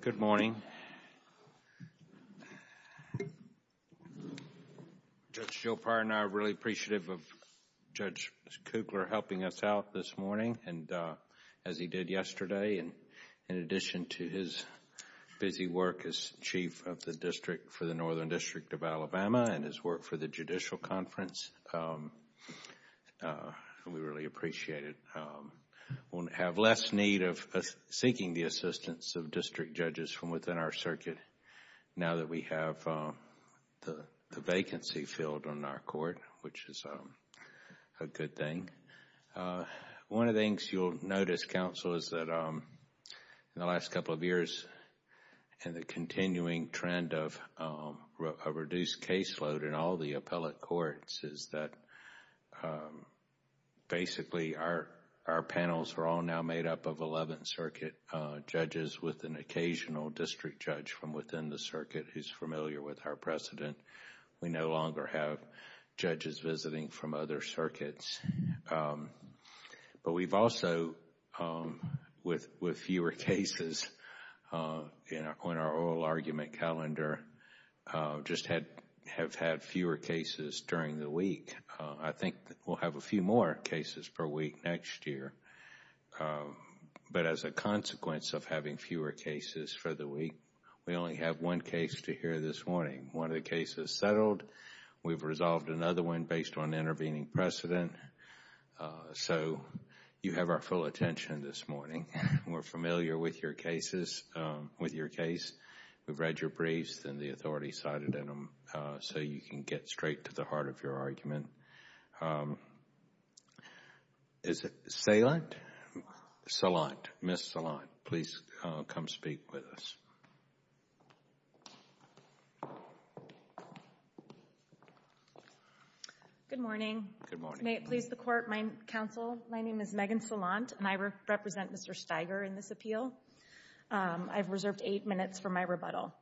Good morning. Judge Joe Prior and I are really appreciative of Judge Kugler helping us out this morning and as he did yesterday, in addition to his busy work as Chief of the District for the Northern District of Alabama and his work for the Judicial Conference, we really appreciate it. We'll have less need of seeking the assistance of district judges from within our circuit now that we have the vacancy filled on our court, which is a good thing. One of the things you'll notice, Counsel, is that in the last couple of years and the our panels are all now made up of Eleventh Circuit judges with an occasional district judge from within the circuit who's familiar with our precedent. We no longer have judges visiting from other circuits. But we've also, with fewer cases on our oral argument calendar, just have had fewer cases during the week. I think we'll have a few more cases per week next year. But as a consequence of having fewer cases for the week, we only have one case to hear this morning. One of the cases settled. We've resolved another one based on intervening precedent. So you have our full attention this morning. We're familiar with your cases, with your case. We've read your briefs and the authority cited in them so you can get straight to the heart of your argument. Is it Salant? Salant. Salant. Ms. Salant, please come speak with us. Good morning. Good morning. May it please the Court, Counsel. My name is Megan Salant and I represent Mr. Steiger in this appeal. I've reserved eight minutes for my rebuttal.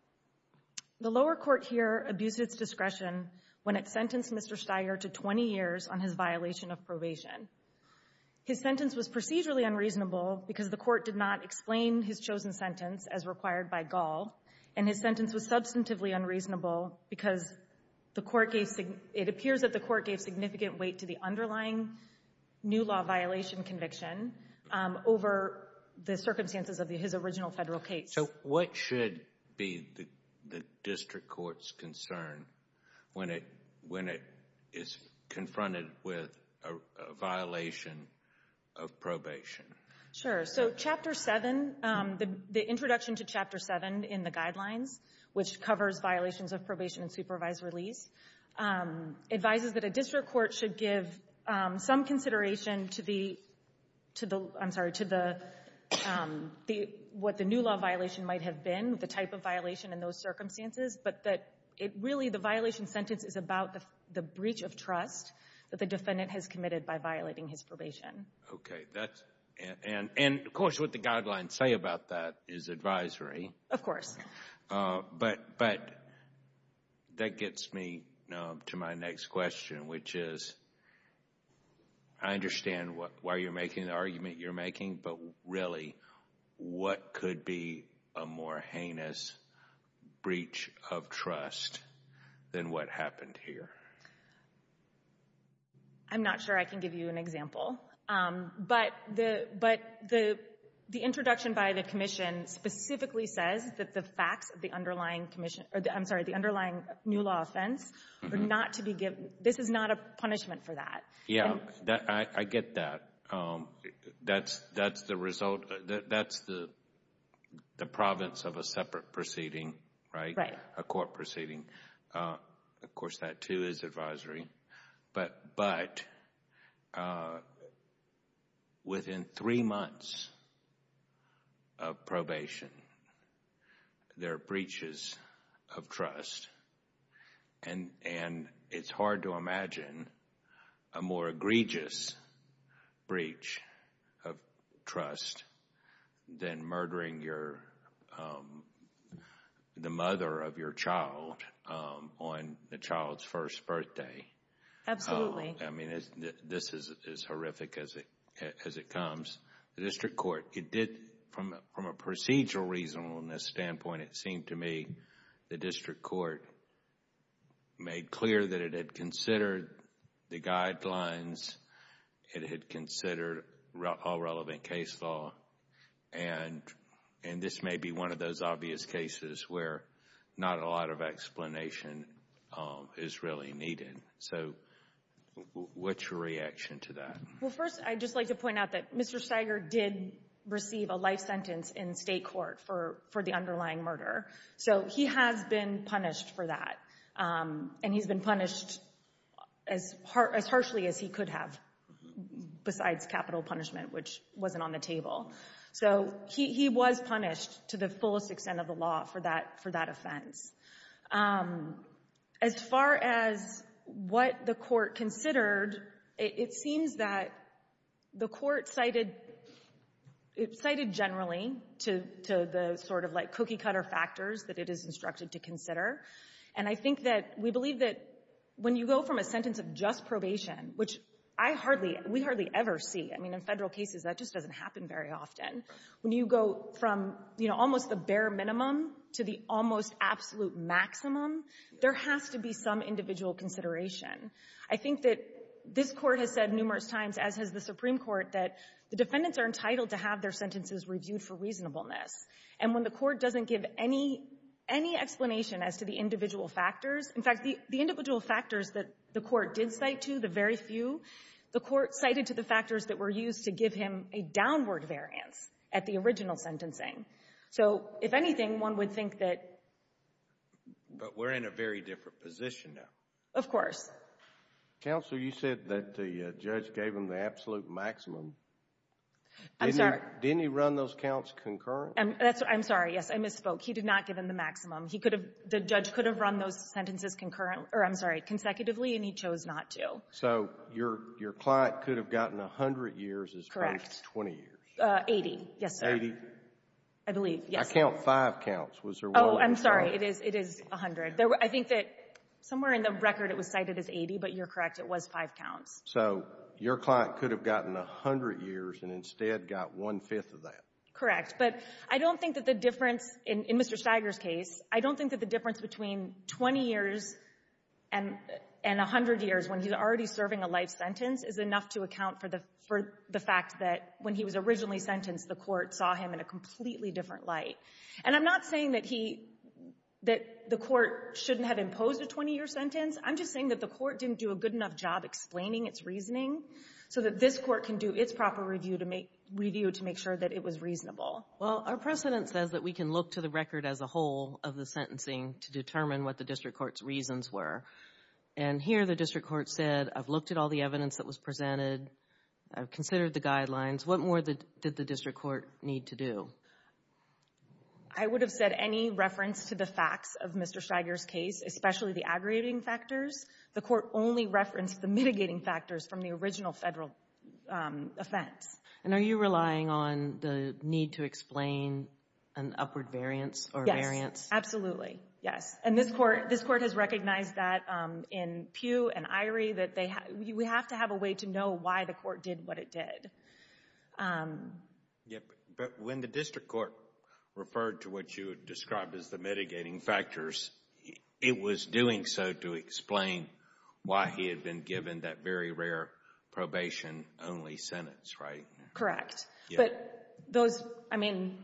The lower court here abused its discretion when it sentenced Mr. Steiger to 20 years on his violation of probation. His sentence was procedurally unreasonable because the Court did not explain his chosen sentence as required by Gall, and his sentence was substantively unreasonable because the Court gave — it appears that the Court gave significant weight to the underlying new law violation conviction over the circumstances of his original Federal case. So what should be the District Court's concern when it is confronted with a violation of probation? Sure. So Chapter 7, the introduction to Chapter 7 in the Guidelines, which covers violations of probation and supervised release, advises that a District Court should give some consideration to the — I'm sorry, to the — what the new law violation might have been, the type of violation and those circumstances, but that it really — the violation sentence is about the breach of trust that the defendant has committed by violating his probation. That's — and, of course, what the Guidelines say about that is advisory. Of course. But that gets me to my next question, which is, I understand why you're making the argument you're making, but really, what could be a more heinous breach of trust than what happened here? I'm not sure I can give you an example, but the introduction by the Commission specifically says that the facts of the underlying commission — I'm sorry, the underlying new law offense are not to be given — this is not a punishment for that. Yeah, I get that. That's the result — that's the province of a separate proceeding, right? Right. A court proceeding. Of course, that, too, is advisory. But within three months of probation, there are breaches of trust, and it's hard to imagine a more egregious breach of trust than murdering your — the mother of your child on the child's first birthday. Absolutely. I mean, this is horrific as it comes. The district court, it did — from a procedural reasonableness standpoint, it seemed to me the district court made clear that it had considered the Guidelines, it had considered all relevant case law, and this may be one of those obvious cases where not a lot of So, what's your reaction to that? Well, first, I'd just like to point out that Mr. Steiger did receive a life sentence in state court for the underlying murder. So, he has been punished for that, and he's been punished as harshly as he could have besides capital punishment, which wasn't on the table. So, he was punished to the fullest extent of the law for that offense. As far as what the court considered, it seems that the court cited — it cited generally to the sort of, like, cookie-cutter factors that it is instructed to consider. And I think that — we believe that when you go from a sentence of just probation, which I hardly — we hardly ever see — I mean, in Federal cases, that just doesn't happen very often. When you go from, you know, almost the bare minimum to the almost absolute maximum, there has to be some individual consideration. I think that this Court has said numerous times, as has the Supreme Court, that the defendants are entitled to have their sentences reviewed for reasonableness. And when the Court doesn't give any — any explanation as to the individual factors — in fact, the individual factors that the Court did cite to, the very few, the Court cited to the factors that were used to give him a downward variance at the original sentencing. So, if anything, one would think that — But we're in a very different position now. Of course. Counsel, you said that the judge gave him the absolute maximum. I'm sorry. Didn't he run those counts concurrently? That's — I'm sorry. Yes, I misspoke. He did not give him the maximum. He could have — the judge could have run those sentences concurrent — or, I'm sorry, consecutively, and he chose not to. So your — your client could have gotten 100 years as opposed to 20 years? Correct. 80, yes, sir. Eighty? I believe, yes, sir. I count five counts. Was there one more? Oh, I'm sorry. It is — it is 100. I think that somewhere in the record it was cited as 80, but you're correct. It was five counts. So your client could have gotten 100 years and instead got one-fifth of that? Correct. But I don't think that the difference — in Mr. Stiger's case, I don't think that the difference between 20 years and — and 100 years, when he's already serving a life sentence, is enough to account for the — for the fact that when he was originally sentenced, the court saw him in a completely different light. And I'm not saying that he — that the court shouldn't have imposed a 20-year sentence. I'm just saying that the court didn't do a good enough job explaining its reasoning so that this court can do its proper review to make — review to make sure that it was reasonable. Well, our precedent says that we can look to the record as a whole of the sentencing to determine what the district court's reasons were. And here the district court said, I've looked at all the evidence that was presented, I've considered the guidelines. What more did the district court need to do? I would have said any reference to the facts of Mr. Stiger's case, especially the aggregating factors. The court only referenced the mitigating factors from the original Federal offense. And are you relying on the need to explain an upward variance or variance? Yes. Absolutely. Yes. And this court — this court has recognized that in Pugh and Irie, that they — we have to have a way to know why the court did what it did. Yeah, but when the district court referred to what you described as the mitigating factors, it was doing so to explain why he had been given that very rare probation-only sentence, right? Correct. But those — I mean,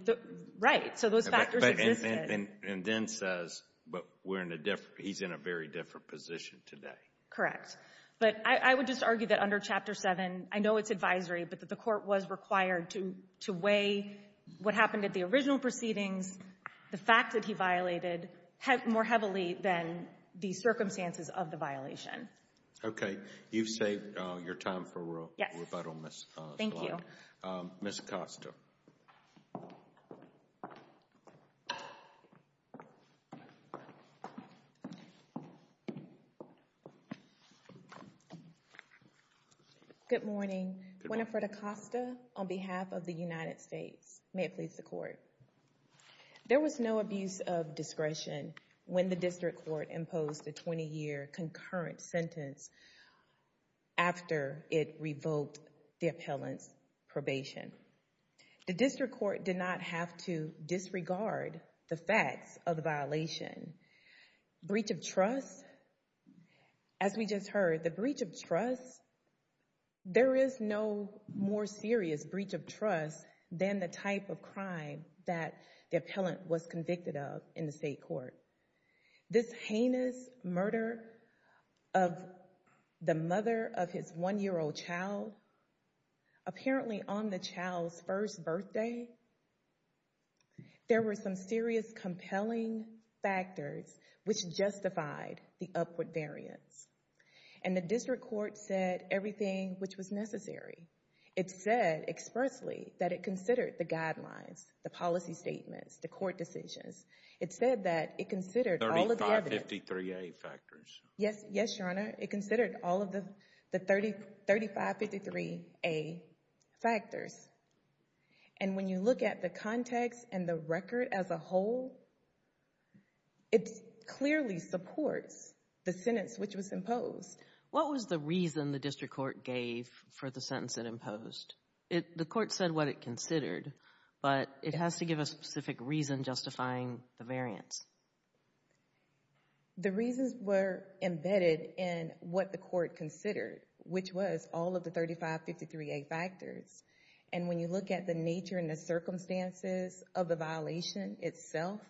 right. So those factors existed. And then says, but we're in a — he's in a very different position today. Correct. But I would just argue that under Chapter 7, I know it's advisory, but that the court was required to weigh what happened at the original proceedings, the fact that he violated more heavily than the circumstances of the violation. Okay. You've saved your time for rebuttal, Ms. — Thank you. Ms. Acosta. Good morning. Winifred Acosta on behalf of the United States. May it please the Court. There was no abuse of discretion when the district court imposed the 20-year concurrent sentence after it revoked the appellant's probation. The district court did not have to disregard the facts of the violation. Breach of trust — as we just heard, the breach of trust, there is no more serious breach of trust than the type of crime that the appellant was convicted of in the state court. This heinous murder of the mother of his one-year-old child, apparently on the child's first birthday, there were some serious compelling factors which justified the upward variance. And the district court said everything which was necessary. It said expressly that it considered the guidelines, the policy statements, the court decisions. It said that it considered all of the other — 3553A factors. Yes, Your Honor. It considered all of the 3553A factors. And when you look at the context and the record as a whole, it clearly supports the sentence which was imposed. What was the reason the district court gave for the sentence it imposed? The court said what it considered, but it has to give a specific reason justifying the variance. The reasons were embedded in what the court considered, which was all of the 3553A factors. And when you look at the nature and the circumstances of the violation itself,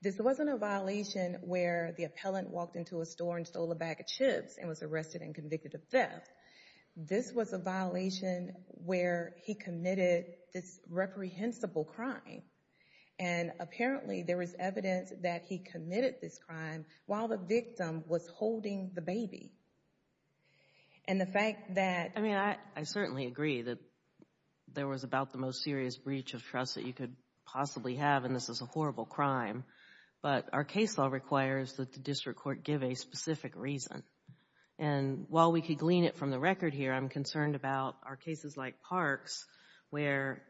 this wasn't a violation where the appellant walked into a store and stole a bag of chips and was arrested and convicted of theft. This was a violation where he committed this reprehensible crime. And apparently there was evidence that he committed this crime while the victim was holding the baby. And the fact that — I mean, I certainly agree that there was about the most serious breach of trust that you could possibly have, and this is a horrible crime. But our case law requires that the district court give a specific reason. And while we could glean it from the record here, I'm concerned about our cases like Parks where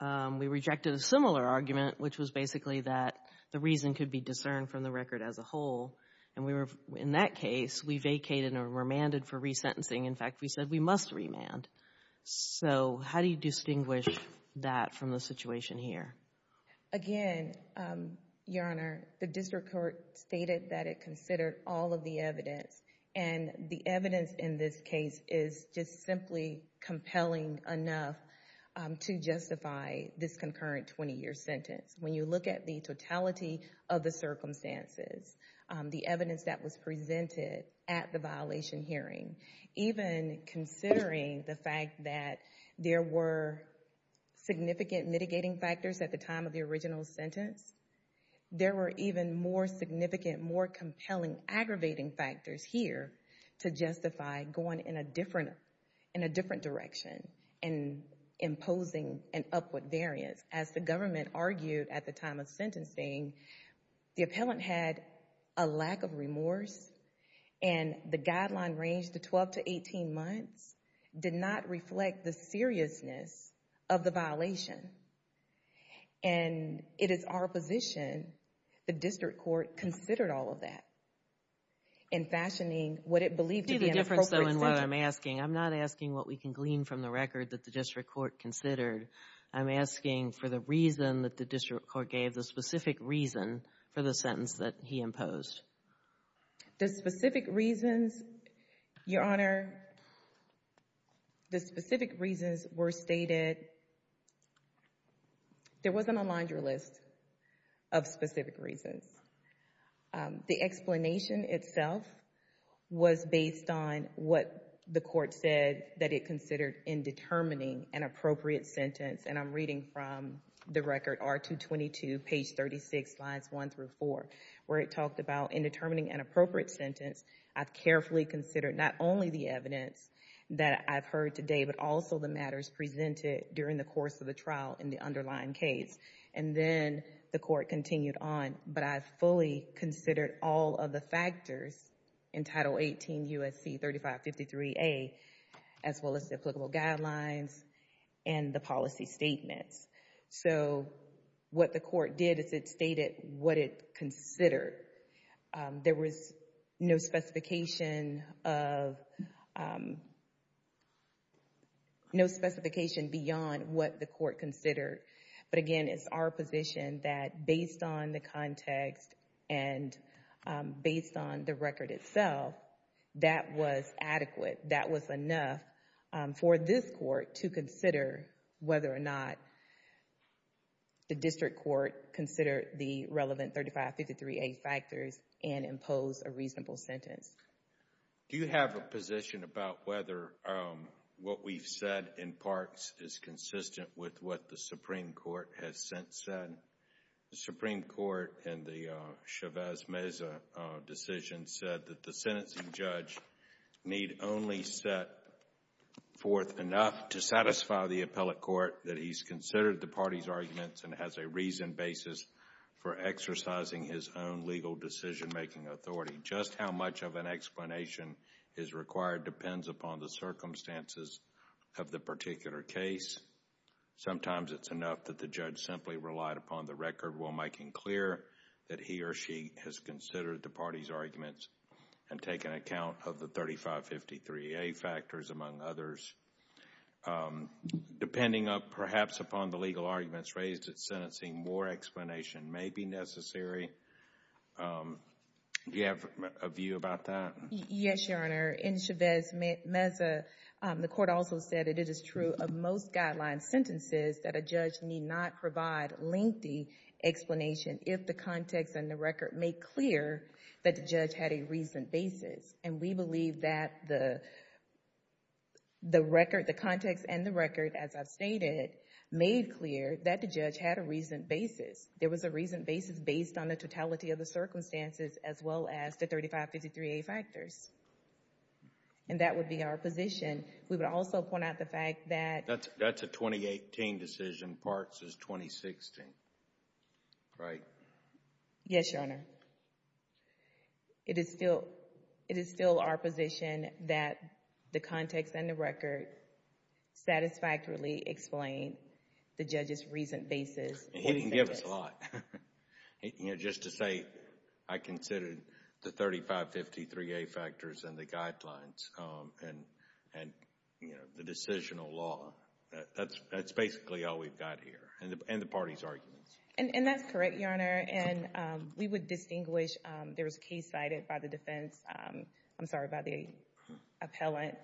we rejected a similar argument, which was basically that the reason could be discerned from the record as a whole. And in that case, we vacated or remanded for resentencing. In fact, we said we must remand. So how do you distinguish that from the situation here? Again, Your Honor, the district court stated that it considered all of the evidence. And the evidence in this case is just simply compelling enough to justify this concurrent 20-year sentence. When you look at the totality of the circumstances, the evidence that was presented at the violation hearing, even considering the fact that there were significant mitigating factors at the time of the original sentence, there were even more significant, more compelling aggravating factors here to justify going in a different — in a different direction and imposing an upward variance. As the government argued at the time of sentencing, the appellant had a lack of remorse. And the guideline range, the 12 to 18 months, did not reflect the seriousness of the violation. And it is our position the district court considered all of that in fashioning what it believed to be an appropriate sentence. Do you see the difference, though, in what I'm asking? I'm not asking what we can glean from the record that the district court considered. I'm asking for the reason that the district court gave, the specific reason for the violation. The specific reasons, Your Honor, the specific reasons were stated — there wasn't a laundry list of specific reasons. The explanation itself was based on what the court said that it considered in determining an appropriate sentence. And I'm reading from the record R222, page 36, slides one through four, where it talked about in determining an appropriate sentence, I've carefully considered not only the evidence that I've heard today, but also the matters presented during the course of the trial in the underlying case. And then the court continued on. But I fully considered all of the factors in Title 18 U.S.C. 3553A, as well as the applicable guidelines and the policy statements. So what the court did is it stated what it considered. There was no specification of — no specification beyond what the court considered. But again, it's our position that based on the context and based on the record itself, that was adequate. That was enough for this court to consider whether or not the district court considered the relevant 3553A factors and imposed a reasonable sentence. Do you have a position about whether what we've said in parts is consistent with what the Supreme Court has since said? The Supreme Court in the Chavez-Meza decision said that the sentencing judge need only set forth enough to satisfy the appellate court that he's considered the party's arguments and has a reasoned basis for exercising his own legal decision-making authority. Just how much of an explanation is required depends upon the circumstances of the particular case. Sometimes it's enough that the judge simply relied upon the record while making clear that he or she has considered the party's arguments and taken account of the 3553A factors, among others. Depending perhaps upon the legal arguments raised at sentencing, more explanation may be necessary. Do you have a view about that? Yes, Your Honor. In Chavez-Meza, the court also said it is true of most guideline sentences that a judge need not provide lengthy explanation if the context and the record make clear that the judge had a reasoned basis. And we believe that the record, the context and the record, as I've stated, made clear that the judge had a reasoned basis. There was a reasoned basis based on the totality of the circumstances as well as the 3553A factors. And that would be our position. We would also point out the fact that... That's a 2018 decision. Parks' is 2016, right? Yes, Your Honor. It is still our position that the context and the record satisfactorily explain the judge's reasoned basis. He can give us a lot. You know, just to say I considered the 3553A factors and the guidelines and the decisional law. That's basically all we've got here and the party's arguments. And that's correct, Your Honor. And we would distinguish... there was a case cited by the defense... I'm sorry, by the appellant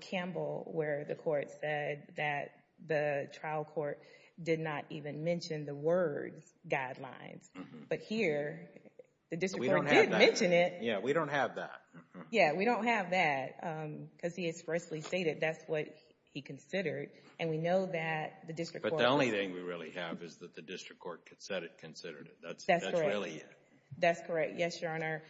Campbell where the court said that the trial court did not even mention the words guidelines. But here, the district court did mention it. Yeah, we don't have that. Yeah, we don't have that. Because he expressly stated that's what he considered. And we know that the district court... But the only thing we really have is that the district court said it considered it. That's really it. That's correct. Yes, Your Honor.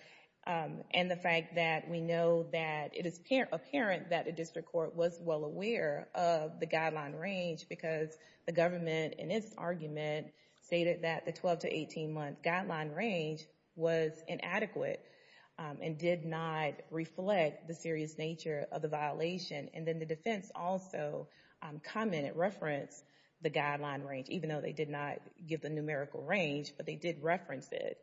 And the fact that we know that it is apparent that the district court was well aware of the guideline range because the government, in its argument, stated that the 12 to 18 month guideline range was inadequate and did not reflect the serious nature of the violation. And then the defense also commented, referenced the guideline range, even though they did not give the numerical range, but they did reference it.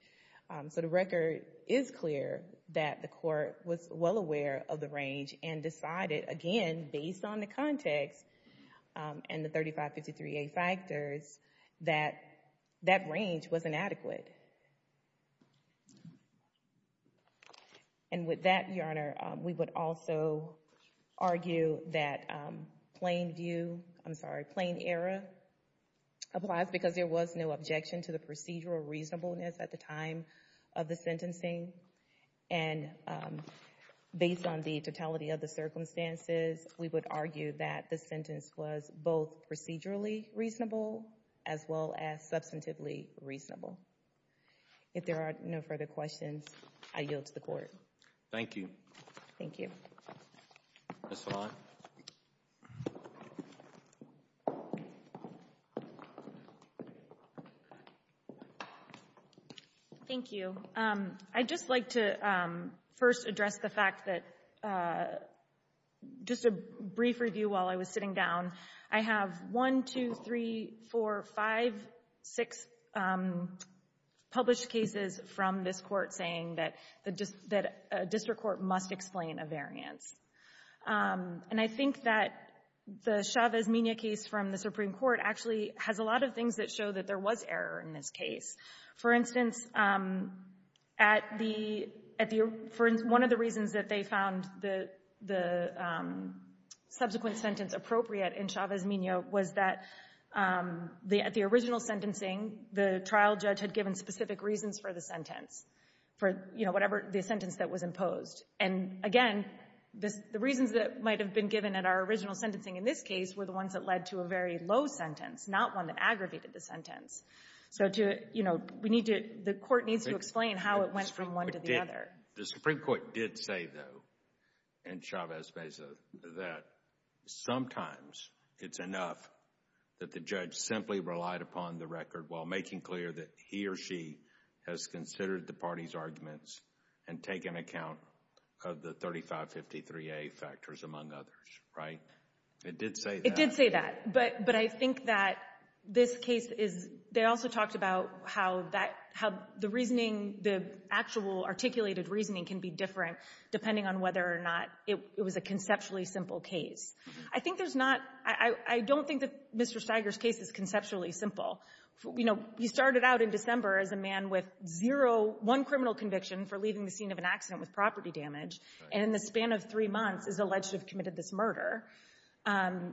So the record is clear that the court was well aware of the range and decided, again, based on the context and the 3553A factors, that that range was inadequate. And with that, Your Honor, we would also argue that plain view, I'm sorry, plain error applies because there was no objection to the procedural reasonableness at the time of the sentencing. And based on the totality of the circumstances, we would argue that the sentence was both procedurally reasonable as well as substantively reasonable. If there are no further questions, I yield to the court. Thank you. Thank you. Ms. Vaughn. Thank you. So I'd just like to first address the fact that just a brief review while I was sitting down. I have one, two, three, four, five, six published cases from this Court saying that the district court must explain a variance. And I think that the Chavez-Mena case from the Supreme Court actually has a lot of things that show that there was error in this case. For instance, one of the reasons that they found the subsequent sentence appropriate in Chavez-Mena was that at the original sentencing, the trial judge had given specific reasons for the sentence, for whatever the sentence that was imposed. And again, the reasons that might have been given at our original sentencing in this case were the ones that led to a very low sentence, not one that aggravated the sentence. So to, you know, we need to, the court needs to explain how it went from one to the other. The Supreme Court did say though in Chavez-Mena that sometimes it's enough that the judge simply relied upon the record while making clear that he or she has considered the party's arguments and taken account of the 3553A factors among others, right? It did say that. It did say that. But I think that this case is, they also talked about how that, how the reasoning, the actual articulated reasoning can be different depending on whether or not it was a conceptually simple case. I think there's not, I don't think that Mr. Steiger's case is conceptually simple. You know, he started out in December as a man with zero, one criminal conviction for leaving the scene of an accident with property damage and in the span of three months is alleged to have committed this murder.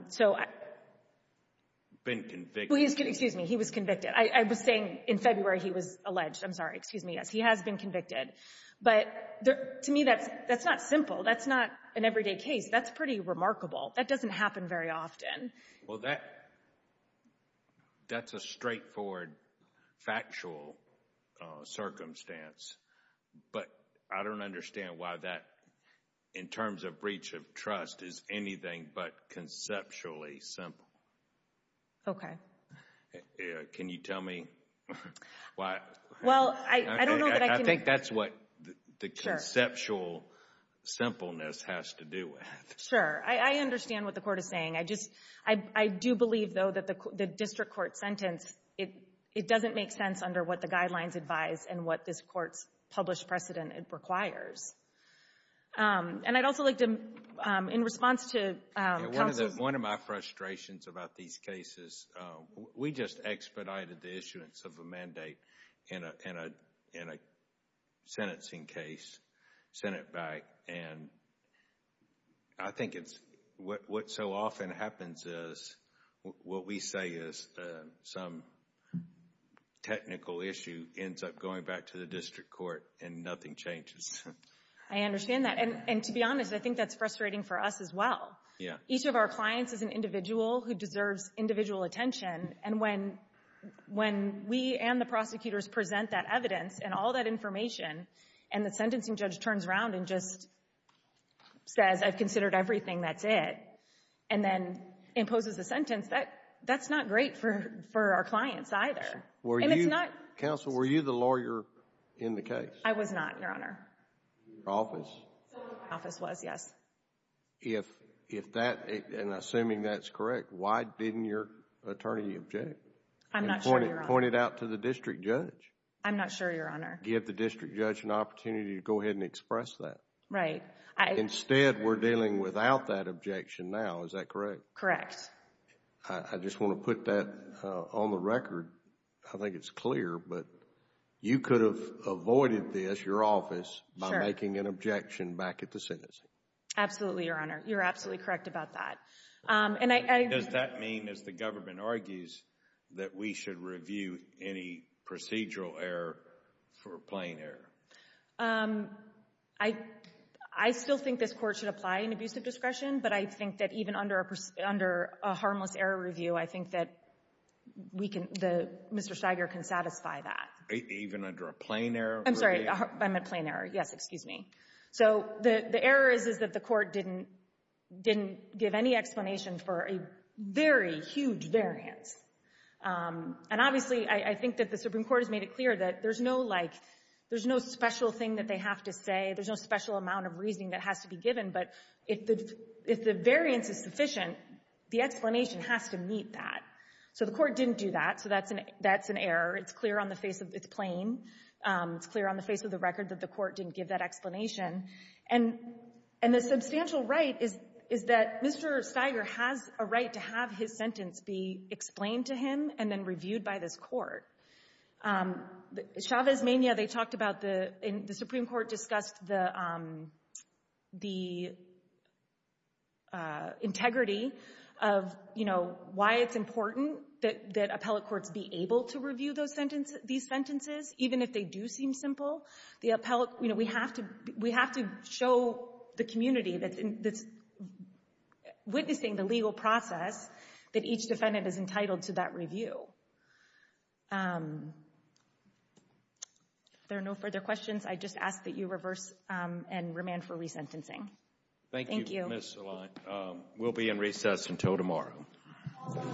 So. Been convicted. Excuse me, he was convicted. I was saying in February he was alleged. I'm sorry. Excuse me. Yes, he has been convicted. But to me, that's not simple. That's not an everyday case. That's pretty remarkable. That doesn't happen very often. Well, that's a straightforward, factual circumstance. But I don't understand why that, in terms of breach of trust, is anything but conceptually simple. Okay. Can you tell me why? Well, I don't know that I can. I think that's what the conceptual simpleness has to do with. Sure. I understand what the court is saying. I just, I do believe though that the district court sentence, it doesn't make sense under what the guidelines advise and what this court's published precedent requires. And I'd also like to, in response to counsel's. One of my frustrations about these cases, we just expedited the issuance of a mandate in a sentencing case, sent it back. And I think it's, what so often happens is, what we say is some technical issue ends up going back to the district court and nothing changes. I understand that. And to be honest, I think that's frustrating for us as well. Yeah. Each of our clients is an individual who deserves individual attention. And when we and the prosecutors present that evidence and all that information and the sentencing judge turns around and just says, I've considered everything, that's it. And then imposes a sentence, that's not great for our clients either. And it's not. Counsel, were you the lawyer in the case? I was not, Your Honor. Your office? My office was, yes. If that, and assuming that's correct, why didn't your attorney object? I'm not sure, Your Honor. And point it out to the district judge. I'm not sure, Your Honor. Give the district judge an opportunity to go ahead and express that. Right. Instead, we're dealing without that objection now. Is that correct? Correct. I just want to put that on the record. I think it's clear, but you could have avoided this, your office, by making an objection back at the sentencing. Absolutely, Your Honor. You're absolutely correct about that. Does that mean, as the government argues, that we should review any procedural error for plain error? I still think this Court should apply an abusive discretion, but I think that even under a harmless error review, I think that we can, Mr. Steiger can satisfy that. Even under a plain error review? I'm sorry. I meant plain error. Yes, excuse me. So the error is that the Court didn't give any explanation for a very huge variance. And obviously, I think that the Supreme Court has made it clear that there's no, like, there's no special thing that they have to say. There's no special amount of reasoning that has to be given. But if the variance is sufficient, the explanation has to meet that. So the Court didn't do that, so that's an error. It's clear on the face of the plain. It's clear on the face of the record that the Court didn't give that explanation. And the substantial right is that Mr. Steiger has a right to have his sentence be explained to him and then reviewed by this Court. Chavez Mania, they talked about the Supreme Court discussed the integrity of, you know, why it's important that appellate courts be able to review those sentences, these sentences, even if they do seem simple. The appellate, you know, we have to show the community that's witnessing the legal process that each defendant is entitled to that review. If there are no further questions, I just ask that you reverse and remand for resentencing. Thank you, Ms. Saline. We'll be in recess until tomorrow. All rise.